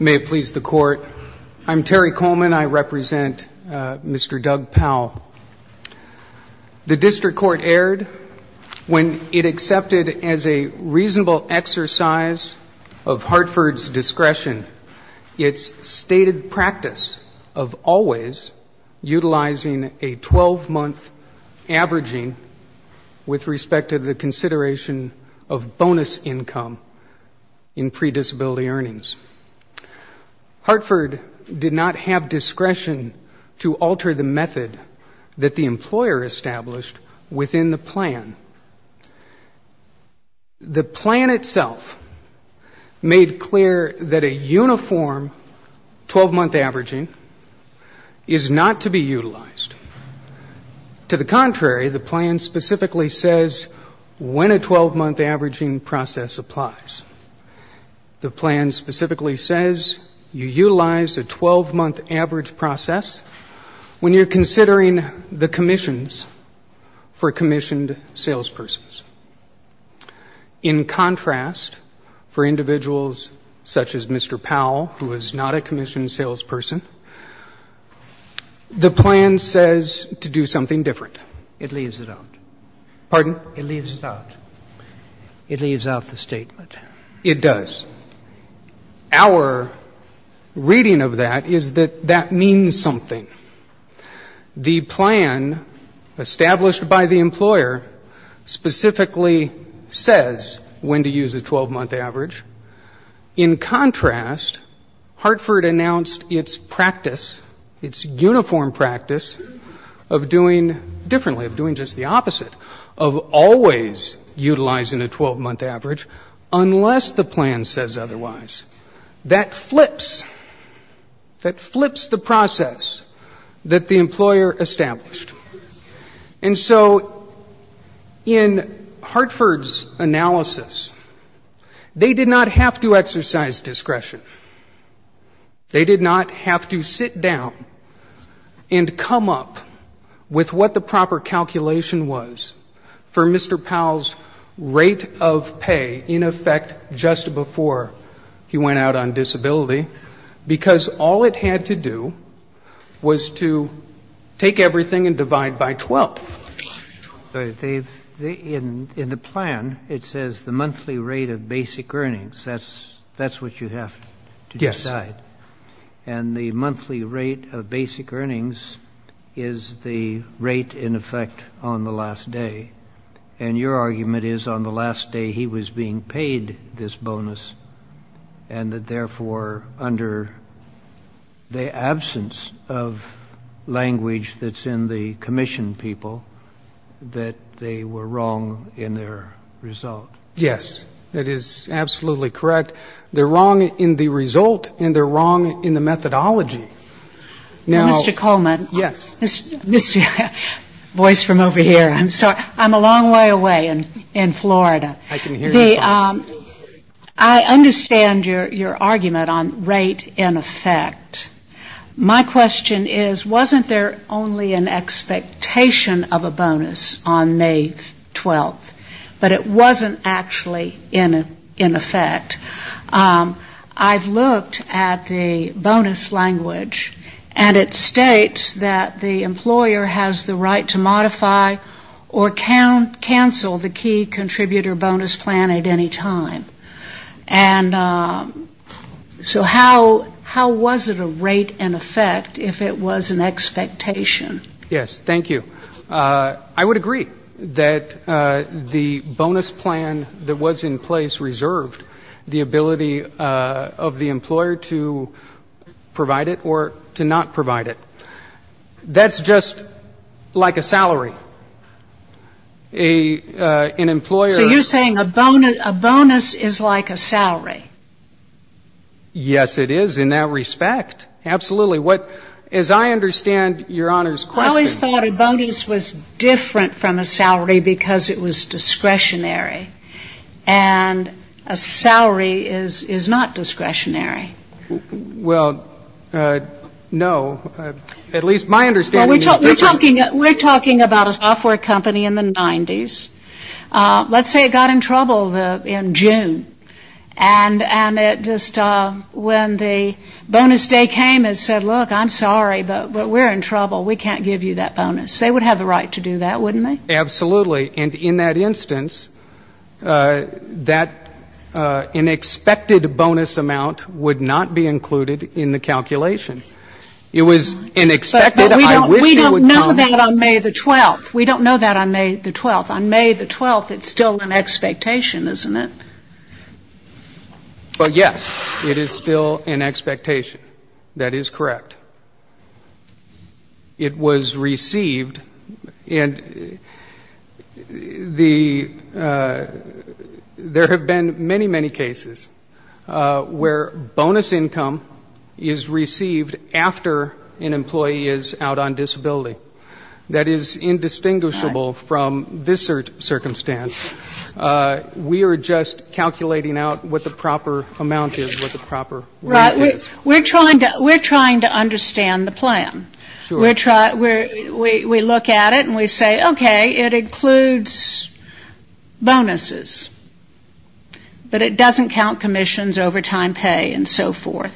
May it please the Court. I'm Terry Coleman. I represent Mr. Doug Powell. The district court erred when it accepted as a reasonable exercise of Hartford's discretion its stated practice of always utilizing a 12-month averaging with respect to the consideration of bonus income in pre-disability earnings. Hartford did not have discretion to alter the method that the employer established within the plan. The plan itself made clear that a uniform 12-month averaging is not to be utilized. To the contrary, the plan specifically says when a 12-month averaging is to be utilized, the 12-month averaging process applies. The plan specifically says you utilize a 12-month average process when you're considering the commissions for commissioned salespersons. In contrast, for individuals such as Mr. Powell, who is not a commissioned salesperson, the plan says to do something different. It leaves it out. Pardon? It leaves it out. It leaves out the statement. It does. Our reading of that is that that means something. The plan established by the employer specifically says when to use a 12-month average. In contrast, Hartford announced its practice, its uniform practice of doing differently, of doing just the opposite, of always utilizing a 12-month average, unless the plan says otherwise. That flips, that flips the process that the employer established. And so in Hartford's analysis, they did not have to exercise discretion. They did not have to sit down and come up with what the proper calculation was for Mr. Powell's rate of pay, in effect, just before he went out on disability, because all it had to do was to take everything and divide by 12. In the plan, it says the monthly rate of basic earnings. That's what you have to decide. Yes. And the monthly rate of basic earnings is the rate, in effect, on the last day. And your argument is on the last day he was being paid this bonus, and that therefore, under the absence of language that's in the commission people, that they were wrong in their result. Yes. That is absolutely correct. They're wrong in the result, and they're wrong in the methodology. Now Mr. Coleman. Yes. Voice from over here. I'm sorry. I'm a long way away in Florida. I can hear you. I understand your argument on rate, in effect. My question is, wasn't there only an expectation of a rate, in effect? I've looked at the bonus language, and it states that the employer has the right to modify or cancel the key contributor bonus plan at any time. And so how was it a rate, in effect, if it was an expectation? Yes. Thank you. I would agree that the bonus plan that was in place reserved the ability of the employer to provide it or to not provide it. That's just like a salary. An employer So you're saying a bonus is like a salary. Yes, it is in that respect. Absolutely. As I understand your Honor's question I always thought a bonus was different from a salary because it was discretionary. And a salary is not discretionary. Well, no. At least my understanding is different. We're talking about a software company in the 90s. Let's say it got in trouble in June. And the bonus day came and said, look, I'm sorry, but we're in trouble. We can't give you that bonus. They would have the right to do that, wouldn't they? Absolutely. And in that instance, that unexpected bonus amount would not be included in the calculation. It was unexpected. But we don't know that on May the 12th. We don't know that on May the 12th. On May the 12th it's still an expectation, isn't it? Well, yes. It is still an expectation. That is correct. It was received. And there have been many, many cases where bonus income is received after an employee is out on disability. That is indistinguishable from this assert circumstance. We are just calculating out what the proper amount is, what the proper rate is. We're trying to understand the plan. We look at it and we say, okay, it includes bonuses. But it doesn't count commissions, overtime pay and so forth.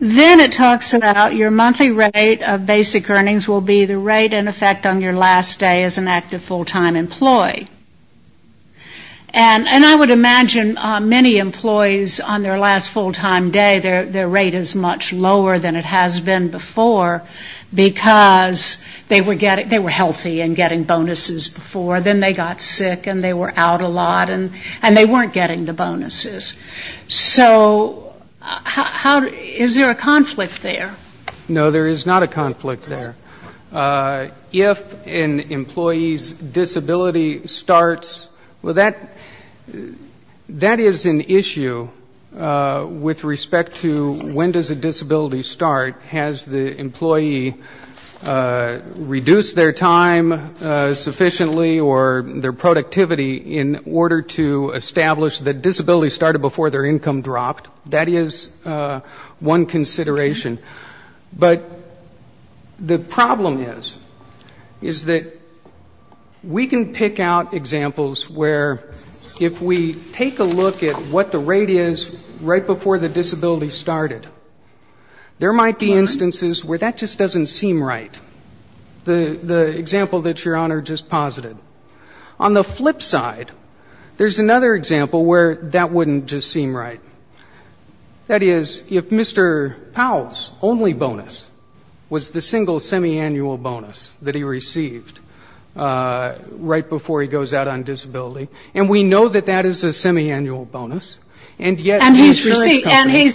Then it talks about your monthly rate of basic earnings will be the rate in effect on your last day as an active full-time employee. And I would imagine many employees on their last full-time day, their rate is much lower than it has been before because they were healthy and getting bonuses before. Then they got sick and they were out a lot and they weren't getting the bonuses. So is there a conflict there? No, there is not a conflict there. If an employee's disability starts, well, that is an issue with respect to when does a disability start. Has the employee reduced their time sufficiently or their productivity in order to establish that rate? But the problem is, is that we can pick out examples where if we take a look at what the rate is right before the disability started, there might be instances where that just doesn't seem right. The example that Your Honor just posited. On the flip side, there's another example where that wouldn't just seem right. That is, if Mr. Powell's only bonus was the single semiannual bonus that he received right before he goes out on disability, and we know that that is a semiannual bonus, and yet... And he's,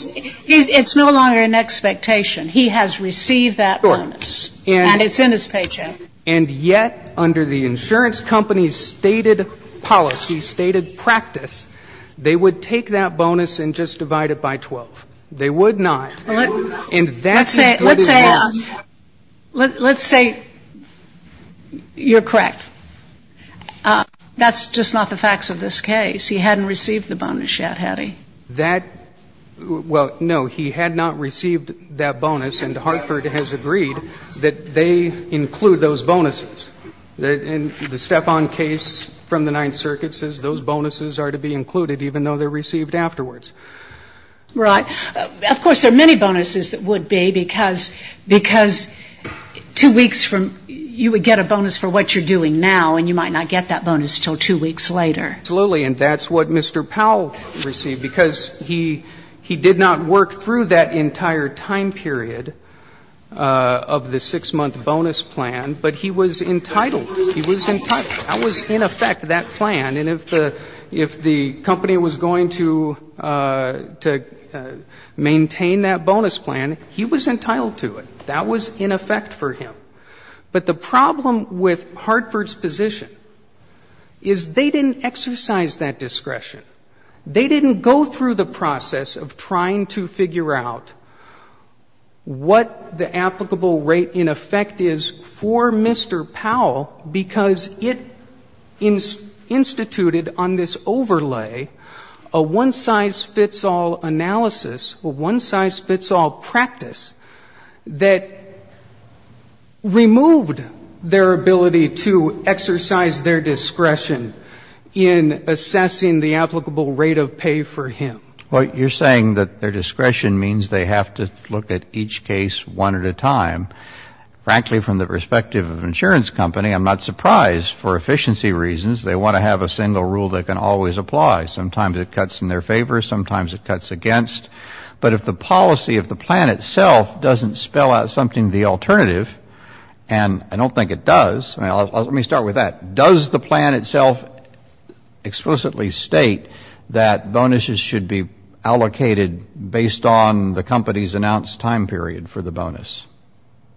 it's no longer an expectation. He has received that bonus and it's in his paycheck. And yet under the insurance company's stated policy, stated practice, they would take that bonus and just divide it by 12. They would not. And that's as good as it is. Let's say, let's say, let's say you're correct. That's just not the facts of this case. He hadn't received the bonus yet, had he? That, well, no. He had not received that bonus, and Hartford has agreed that they include those bonuses. And the Stefan case from the Ninth Circuit says those bonuses are to be included even though they're received afterwards. Right. Right. Right. Right. Right. Right. Right. Right. Of course, there are many bonuses that would be because two weeks from, you would get a bonus for what you're doing now, and you might not get that bonus until two weeks later. Absolutely. And that's what Mr. Powell received, because he did not work through that entire time period of the six-month bonus plan, but he was entitled. He was entitled. That was, in effect, that plan. And if the, if the company was going to, to maintain that bonus plan, he was entitled to it. That was, in effect, for him. But the problem with Hartford's position is they didn't exercise that discretion. They didn't go through the process of trying to figure out what the applicable rate, in effect, is for Mr. Powell because it instituted on this overlay a one-size-fits-all analysis, a one-size-fits-all practice that removed their ability to exercise their discretion in assessing the applicable rate of pay for him. Well, you're saying that their discretion means they have to look at each case one at a time. Frankly, from the perspective of an insurance company, I'm not surprised for efficiency reasons. They want to have a single rule that can always apply. Sometimes it cuts in their favor. Sometimes it cuts against. But if the policy of the plan itself doesn't spell out something, the alternative, and I don't think it does. I mean, let me start with that. Does the plan itself explicitly state that bonuses should be allocated based on the company's announced time period for the bonus?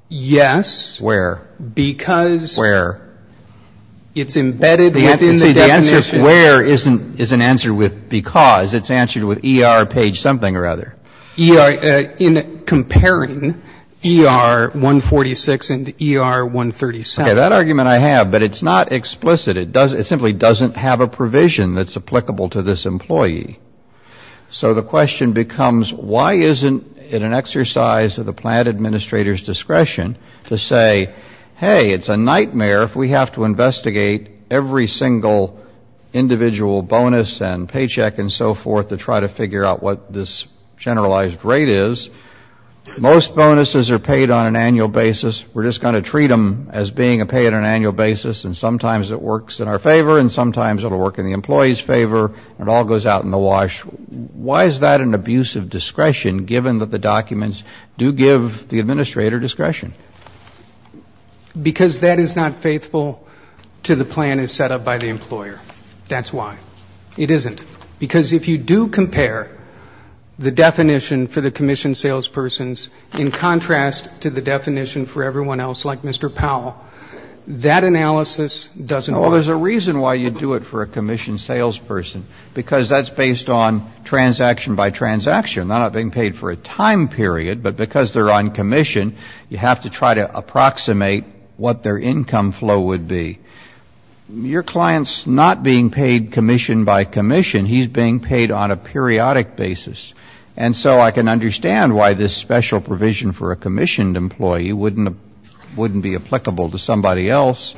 Yes. Where? Because it's embedded within the definition. The answer where is an answer with because. It's answered with ER page something or other. In comparing ER 146 and ER 137. Okay. That argument I have, but it's not explicit. It simply doesn't have a provision that's applicable to this employee. So the question becomes, why isn't it an exercise of the plan administrator's discretion to say, hey, it's a nightmare if we have to investigate every single individual bonus and paycheck and so forth to try to figure out what this generalized rate is. Most bonuses are paid on an annual basis. We're just going to treat them as being a pay on an annual basis. So if the plan is set up to wash, why is that an abuse of discretion, given that the documents do give the administrator discretion? Because that is not faithful to the plan as set up by the employer. That's why. It isn't. Because if you do compare the definition for the commission salespersons in contrast to the definition for everyone else, like Mr. Powell, that analysis doesn't work. It's based on transaction by transaction. They're not being paid for a time period, but because they're on commission, you have to try to approximate what their income flow would be. Your client's not being paid commission by commission. He's being paid on a periodic basis. And so I can understand why this special provision for a commissioned employee wouldn't be applicable to somebody else.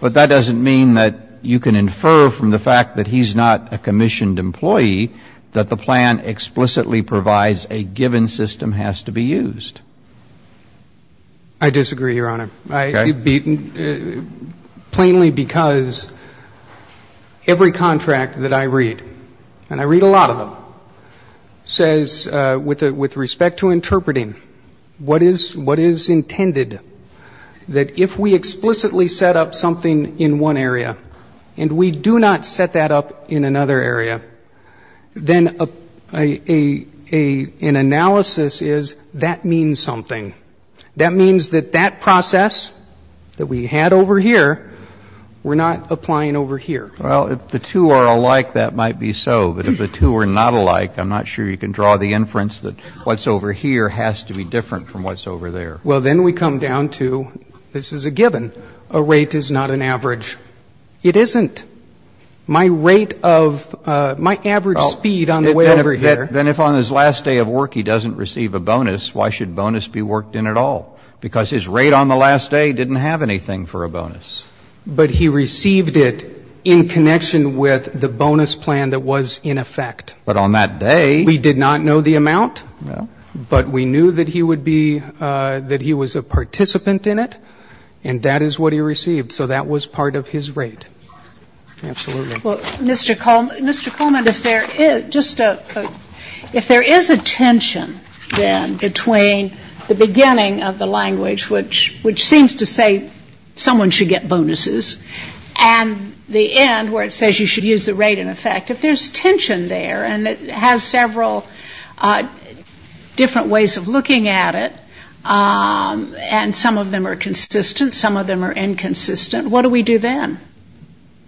But that doesn't mean that you can infer from the fact that he's not a commissioned employee that the plan explicitly provides a given system has to be used. I disagree, Your Honor, plainly because every contract that I read, and I read a lot of them, says with respect to interpreting, what is intended? That if we explicitly set up something in one area and we do not set that up in another area, then an analysis is that means something. That means that that process that we had over here, we're not applying over here. Well, if the two are alike, that might be so. But if the two are not alike, I'm not sure you can draw the inference that what's over here has to be different from what's over there. Well, then we come down to this is a given. A rate is not an average. It isn't. My rate of my average speed on the way over here. Then if on his last day of work he doesn't receive a bonus, why should bonus be worked in at all? Because his rate on the last day didn't have anything for a bonus. But he received it in connection with the bonus plan that was in effect. But on that day, we did not know the amount, but we knew that he would be, that he was a participant in it, and that is what he received. So that was part of his rate. Mr. Coleman, if there is a tension then between the beginning of the language, which seems to say someone should get bonuses, and the end where it says you should use the rate in effect. If there's tension there, and it has several different ways of looking at it, and some of them are consistent, some of them are inconsistent, what do we do then?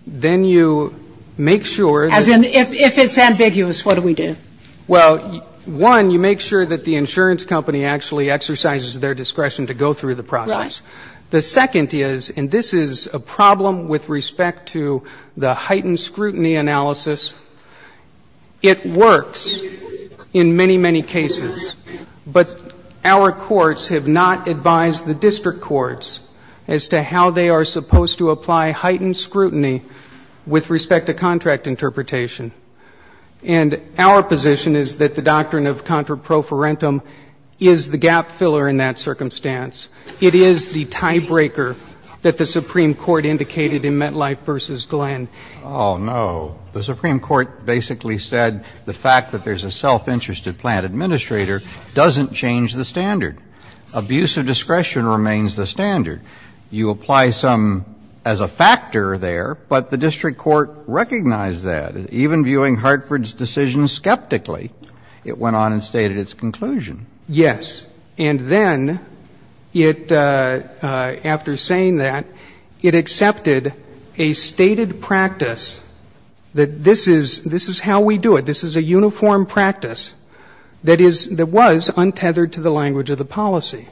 Then you make sure that... As in, if it's ambiguous, what do we do? Well, one, you make sure that the insurance company actually exercises their discretion to go through the process. The second is, and this is a problem with respect to the heightened scrutiny analysis, it works in many, many cases. But our courts have not advised the district courts as to how they are supposed to apply heightened scrutiny with respect to contract interpretation. And our position is that the doctrine of contra pro farentum is the gap filler in that circumstance. It is the tiebreaker that the Supreme Court indicated in MetLife v. Glenn. Oh, no. The Supreme Court basically said the fact that there's a self-interested plant administrator doesn't change the standard. Abuse of discretion remains the standard. You apply some as a factor there, but the district court recognized that. It, after saying that, it accepted a stated practice that this is how we do it. This is a uniform practice that is, that was untethered to the language of the policy.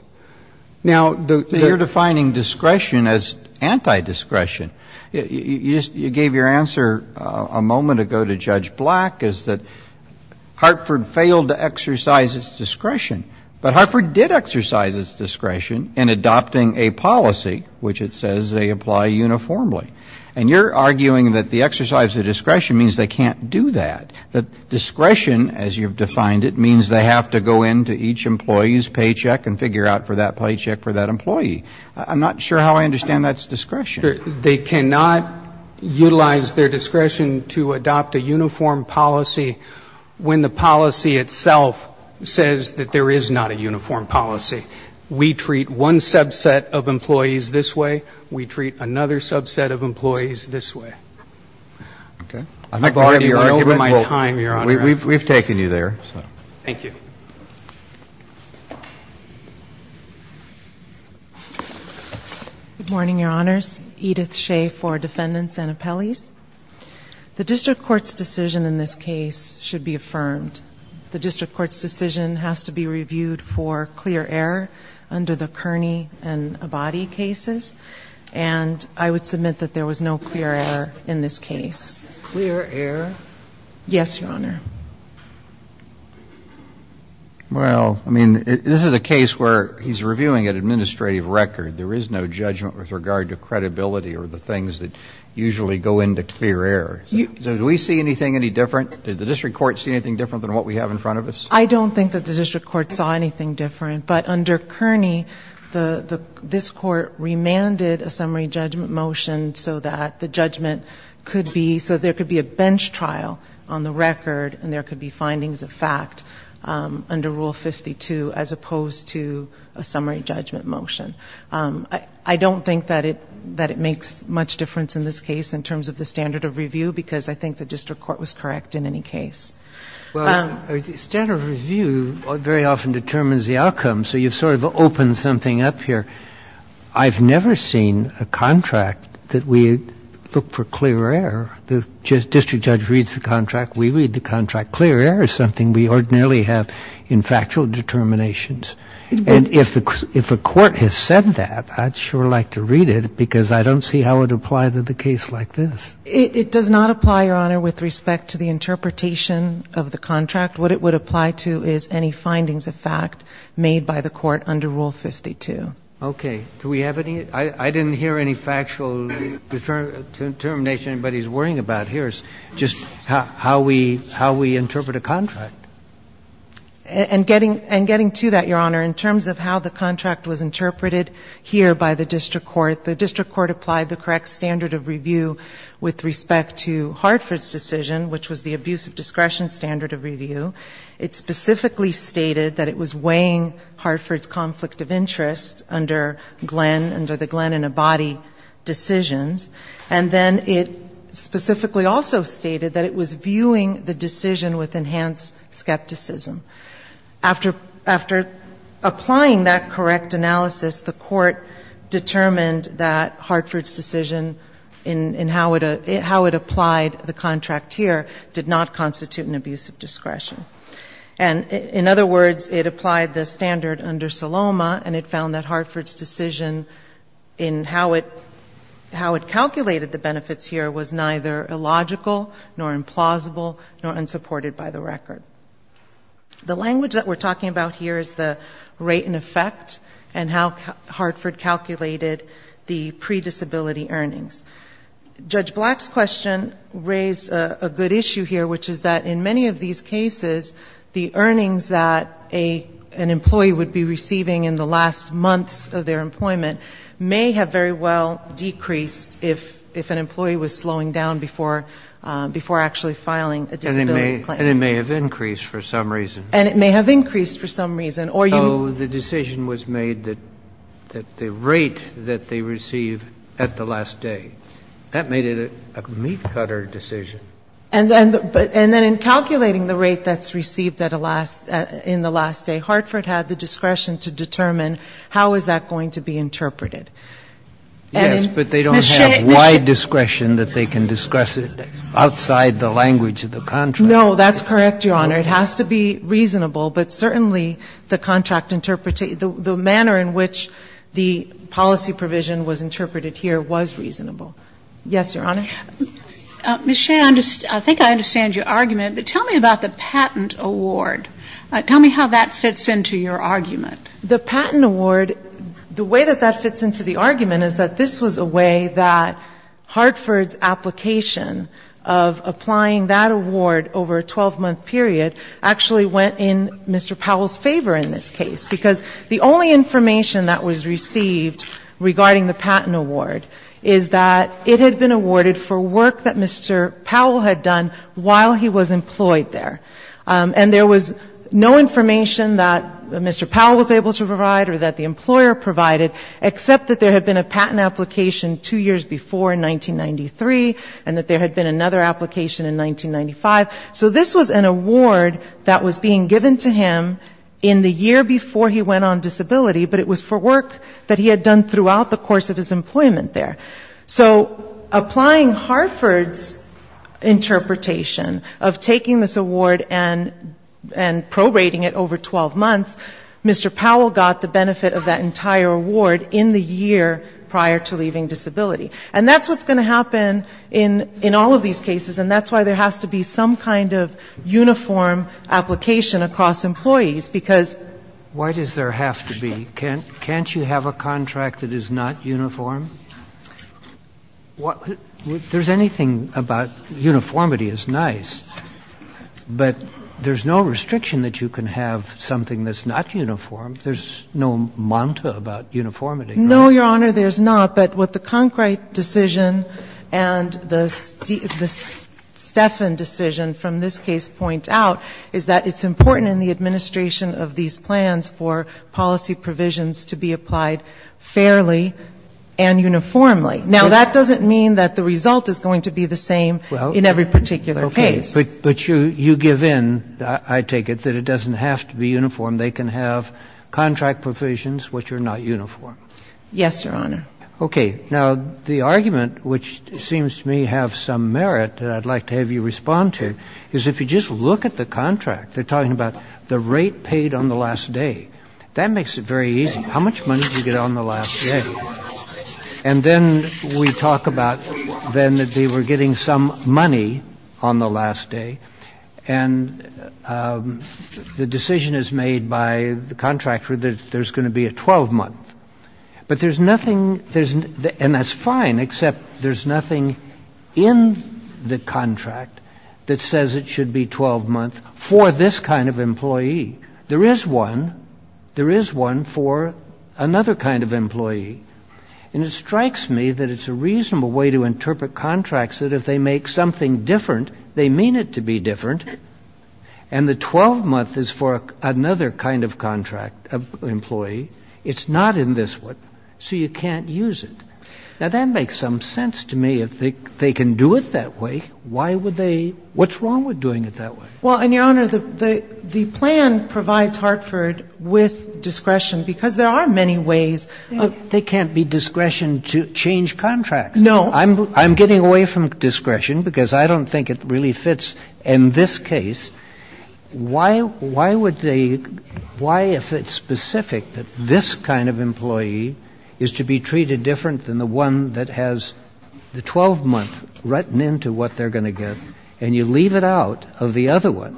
Now, the... You're defining discretion as anti-discretion. You just, you gave your answer a moment ago to Judge Black, is that Hartford failed to exercise its discretion. But Hartford did exercise its discretion in adopting a policy which it says they apply uniformly. And you're arguing that the exercise of discretion means they can't do that. That discretion, as you've defined it, means they have to go into each employee's paycheck and figure out for that paycheck for that employee. I'm not sure how I understand that's discretion. They cannot utilize their discretion to adopt a uniform policy when the policy itself says that there is not a uniform policy. We treat one subset of employees this way. We treat another subset of employees this way. Okay. I've already given my time, Your Honor. We've taken you there. Thank you. Good morning, Your Honors. Edith Shea for Defendants and Appellees. The district court's decision in this case should be affirmed. The district court's decision has to be reviewed for clear error under the Kearney and Abadie cases. Clear error? Yes, Your Honor. Well, I mean, this is a case where he's reviewing an administrative record. There is no judgment with regard to credibility or the things that usually go into clear error. Do we see anything any different? Did the district court see anything different than what we have in front of us? I don't think that the district court saw anything different. But under Kearney, this Court remanded a summary judgment motion so that the judgment could be so there could be a bench trial on the record and there could be findings of fact under Rule 52 as opposed to a summary judgment motion. I don't think that it makes much difference in this case in terms of the standard of review, because I think the district court was correct in any case. Well, standard of review very often determines the outcome, so you've sort of opened something up here. I've never seen a contract that we look for clear error. The district judge reads the contract, we read the contract. Clear error is something we ordinarily have in factual determinations. And if a court has said that, I'd sure like to read it, because I don't see how it would apply to the case like this. It does not apply, Your Honor, with respect to the interpretation of the contract. What it would apply to is any findings of fact made by the court under Rule 52. Okay. Do we have any? I didn't hear any factual determination anybody's worrying about here. It's just how we interpret a contract. And getting to that, Your Honor, in terms of how the contract was interpreted here by the district court, the district court applied the correct standard of review with respect to Hartford's decision, which was the abuse of discretion standard of review. It specifically stated that it was weighing Hartford's conflict of interest under Glenn, under the Glenn and Abadi decisions, and then it specifically also stated that it was viewing the decision with enhanced skepticism. After applying that correct analysis, the court determined that Hartford's decision in how it applied the contract here did not constitute an abuse of discretion. And in other words, it applied the standard under Saloma, and it found that Hartford's decision in how it calculated the benefits here was neither illogical nor implausible nor unsupported by the record. The language that we're talking about here is the rate in effect and how Hartford calculated the predisability earnings. Judge Black's question raised a good issue here, which is that in many of these cases, the earnings that an employee would be receiving in the last months of their employment may have very well decreased if an employee was slowing down before actually filing a disability claim. And it may have increased for some reason. Oh, the decision was made that the rate that they receive at the last day. That made it a meat-cutter decision. And then in calculating the rate that's received in the last day, Hartford had the discretion to determine how is that going to be interpreted. Yes, but they don't have wide discretion that they can discuss it outside the language of the contract. No, that's correct, Your Honor. It has to be reasonable, but certainly the contract interpretation, the manner in which the policy provision was interpreted here was reasonable. Yes, Your Honor. Ms. Shea, I think I understand your argument, but tell me about the patent award. Tell me how that fits into your argument. The patent award, the way that that fits into the argument is that this was a way that Hartford's application of applying that award over a 12-month period actually went in Mr. Powell's favor in this case, because the only information that was received regarding the patent award is that it had been awarded for work that Mr. Powell had done while he was employed there. And there was no information that Mr. Powell was able to provide or that the employer provided, except that there had been a patent application two years before in 1993 and that there had been another application in 1995. So this was an award that was being given to him in the year before he went on disability, but it was for work that he had done throughout the course of his employment there. So applying Hartford's interpretation of taking this award and prorating it over 12 months, Mr. Powell got the benefit of that entire award in the year prior to leaving disability. And that's what's going to happen in all of these cases, and that's why there has to be some kind of uniform application across employees, because... There's anything about uniformity is nice, but there's no restriction that you can have something that's not uniform. There's no manta about uniformity, right? No, Your Honor, there's not, but what the Conkright decision and the Steffen decision from this case point out is that it's important in the administration of these plans for policy provisions to be applied fairly and uniformly. Now, that doesn't mean that the result is going to be the same in every particular case. Okay. But you give in, I take it, that it doesn't have to be uniform. They can have contract provisions which are not uniform. Yes, Your Honor. Okay. Now, the argument, which seems to me have some merit that I'd like to have you respond to, is if you just look at the contract. They're talking about the rate paid on the last day. That makes it very easy. How much money did you get on the last day? We talk about then that they were getting some money on the last day, and the decision is made by the contractor that there's going to be a 12-month. But there's nothing, and that's fine, except there's nothing in the contract that says it should be 12-month for this kind of employee. There is one. There is one for another kind of employee. And it strikes me that it's a reasonable way to interpret contracts, that if they make something different, they mean it to be different, and the 12-month is for another kind of employee. It's not in this one. So you can't use it. Now, that makes some sense to me. If they can do it that way, why would they? What's wrong with doing it that way? Well, and, Your Honor, the plan provides Hartford with discretion because there are many ways. They can't be discretioned to change contracts. No. I'm getting away from discretion because I don't think it really fits in this case. Why would they? Why, if it's specific that this kind of employee is to be treated different than the one that has the 12-month written into what they're going to get, and you leave it out of the other one,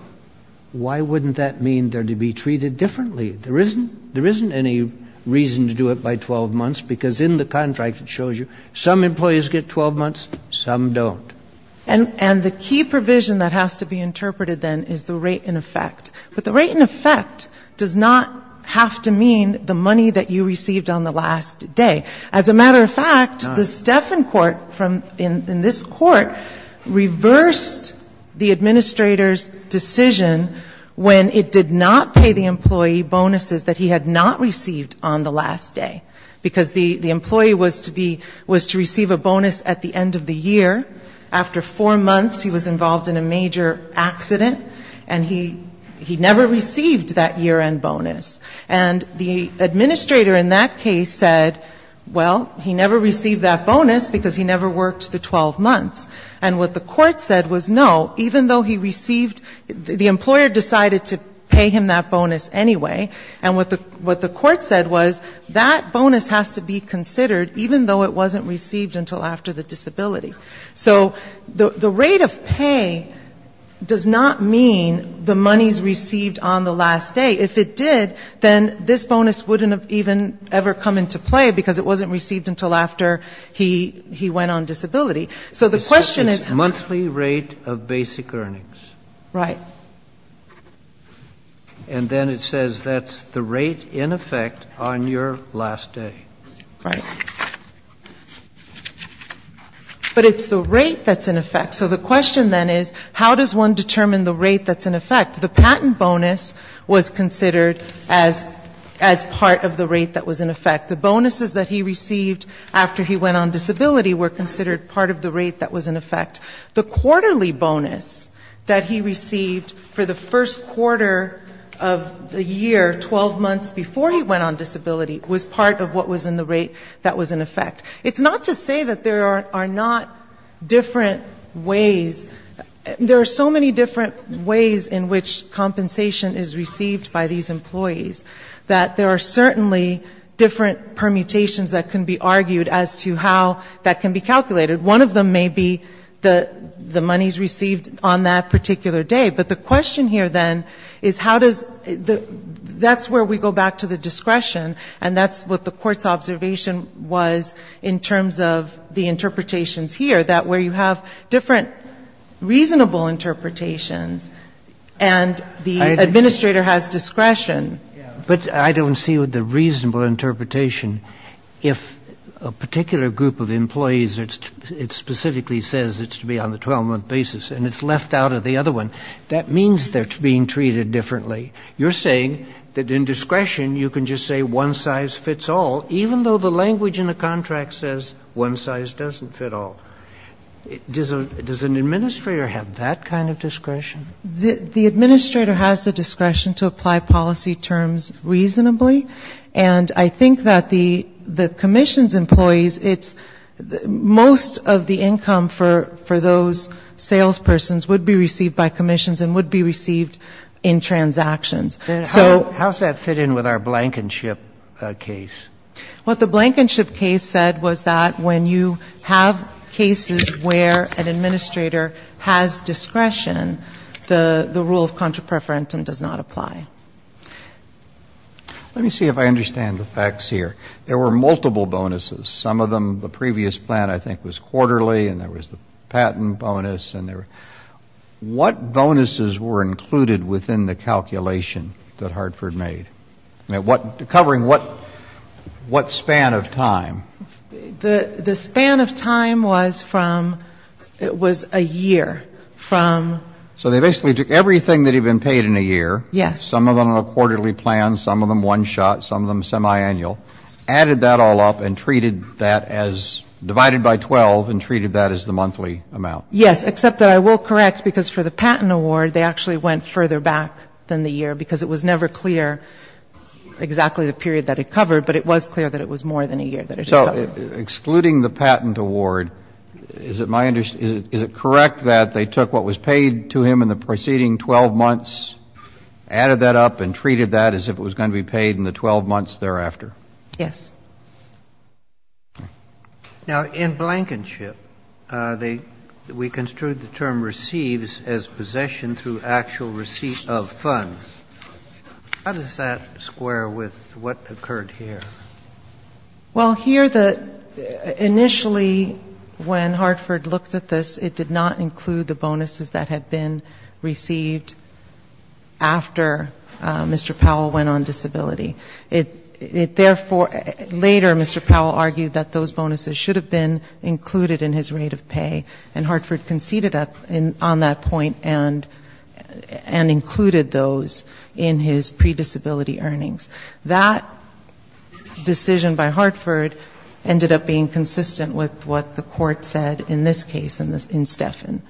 why wouldn't that mean they're to be treated differently? There isn't any reason to do it by 12 months, because in the contract it shows you some employees get 12 months, some don't. And the key provision that has to be interpreted, then, is the rate in effect. But the rate in effect does not have to mean the money that you received on the last day. As a matter of fact, the Stefan court in this court reversed the administrator's decision when it did not pay the employee bonus of 12 months. It said that he received bonuses that he had not received on the last day, because the employee was to be, was to receive a bonus at the end of the year. After four months he was involved in a major accident, and he never received that year-end bonus. And the administrator in that case said, well, he never received that bonus because he never worked the 12 months. And what the court said was, no, even though he received, the employer decided to pay him that bonus anyway. And what the court said was, that bonus has to be considered, even though it wasn't received until after the disability. So the rate of pay does not mean the money's received on the last day. If it did, then this bonus wouldn't have even ever come into play, because it wasn't received until after he went on disability. So the question is how... And then it says that's the rate in effect on your last day. Right. But it's the rate that's in effect. So the question then is how does one determine the rate that's in effect? The patent bonus was considered as part of the rate that was in effect. The bonuses that he received after he went on disability were considered part of the rate that was in effect. The quarterly bonus that he received for the first quarter of the year, 12 months before he went on disability, was part of what was in the rate that was in effect. It's not to say that there are not different ways. There are so many different ways in which compensation is received by these employees that there are certainly different permutations that can be argued as to how that can be calculated. One of them may be the monies received on that particular day. But the question here, then, is how does the... That's where we go back to the discretion, and that's what the Court's observation was in terms of the interpretations here, that where you have different reasonable interpretations, and the administrator has discretion. But I don't see the reasonable interpretation. If a particular group of employees, it specifically says it's to be on the 12-month basis, and it's left out of the other one, that means they're being treated differently. You're saying that in discretion you can just say one size fits all, even though the language in the contract says one size doesn't fit all. Does an administrator have that kind of discretion? The administrator has the discretion to apply policy terms reasonably, and I think that the commissions employees, it's most of the income for those salespersons would be received by commissions and would be received in transactions. So... How does that fit in with our blankenship case? What the blankenship case said was that when you have cases where an administrator has discretion, the rule of contra preferentum does not apply. Let me see if I understand the facts here. There were multiple bonuses. Some of them, the previous plan I think was quarterly, and there was the patent bonus, and there were... What bonuses were included within the calculation that Hartford made? Covering what span of time? The span of time was from, it was a year from... So they basically took everything that had been paid in a year, some of them on a quarterly plan, some of them one-shot, some of them semi-annual, added that all up and treated that as, divided by 12, and treated that as the monthly amount. Yes, except that I will correct, because for the patent award, they actually went further back than the year, because it was never clear exactly the period that it covered, but it was clear that it was more than a year that it covered. So excluding the patent award, is it correct that they took what was paid to him in the preceding 12 months, added that up and treated that as if it was going to be paid in the 12 months thereafter? Yes. Now, in Blankenship, we construed the term receives as possession through actual receipt of funds. How does that square with what occurred here? Well, here, initially, when Hartford looked at this, it did not include the bonuses that had been received after Mr. Powell went on disability. It therefore, later, Mr. Powell argued that those bonuses should have been included in his rate of pay, and Hartford conceded on that point and included those in his pre-disability earnings. That decision by Hartford ended up being consistent with what the court said in this case, in Steffen,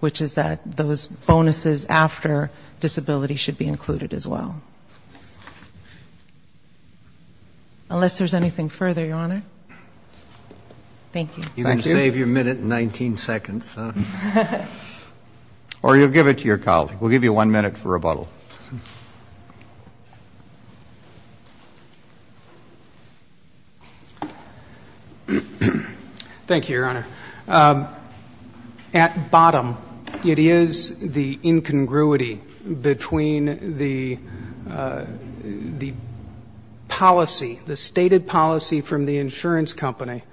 which is that those bonuses after disability should be included as well. Unless there's anything further, Your Honor. Thank you. You're going to save your minute and 19 seconds, huh? Or you'll give it to your colleague. We'll give you one minute for rebuttal. Thank you, Your Honor. At bottom, it is the incongruity between the policy, the stated policy from the insurance company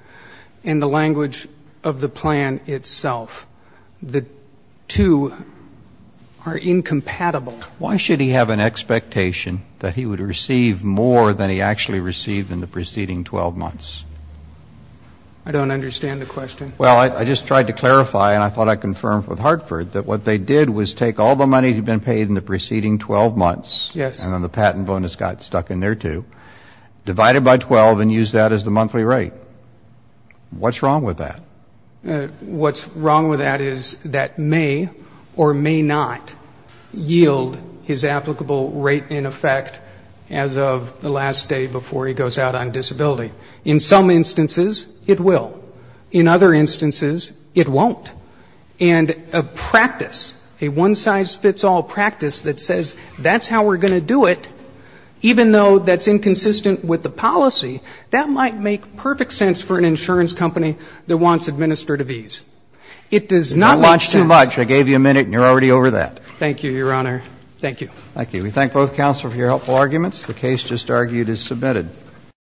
and the language of the plan itself. The two are incompatible. Why should he have an expectation that he would receive more than he actually received in the preceding 12 months? I don't understand the question. Well, I just tried to clarify, and I thought I confirmed with Hartford that what they did was take all the money that had been paid in the preceding 12 months, and then the patent bonus got stuck in there, too, divided by 12 and used that as the monthly rate. What's wrong with that? What's wrong with that is that may or may not yield his applicable rate in effect as of the last day before he goes out on disability. In some instances, it will. In other instances, it won't. And a practice, a one-size-fits-all practice that says, that's how we're going to do it, even though that's inconsistent with the policy, that might make perfect sense for an insurance company that wants administrative ease. It does not make sense. Thank you, Your Honor. Thank you.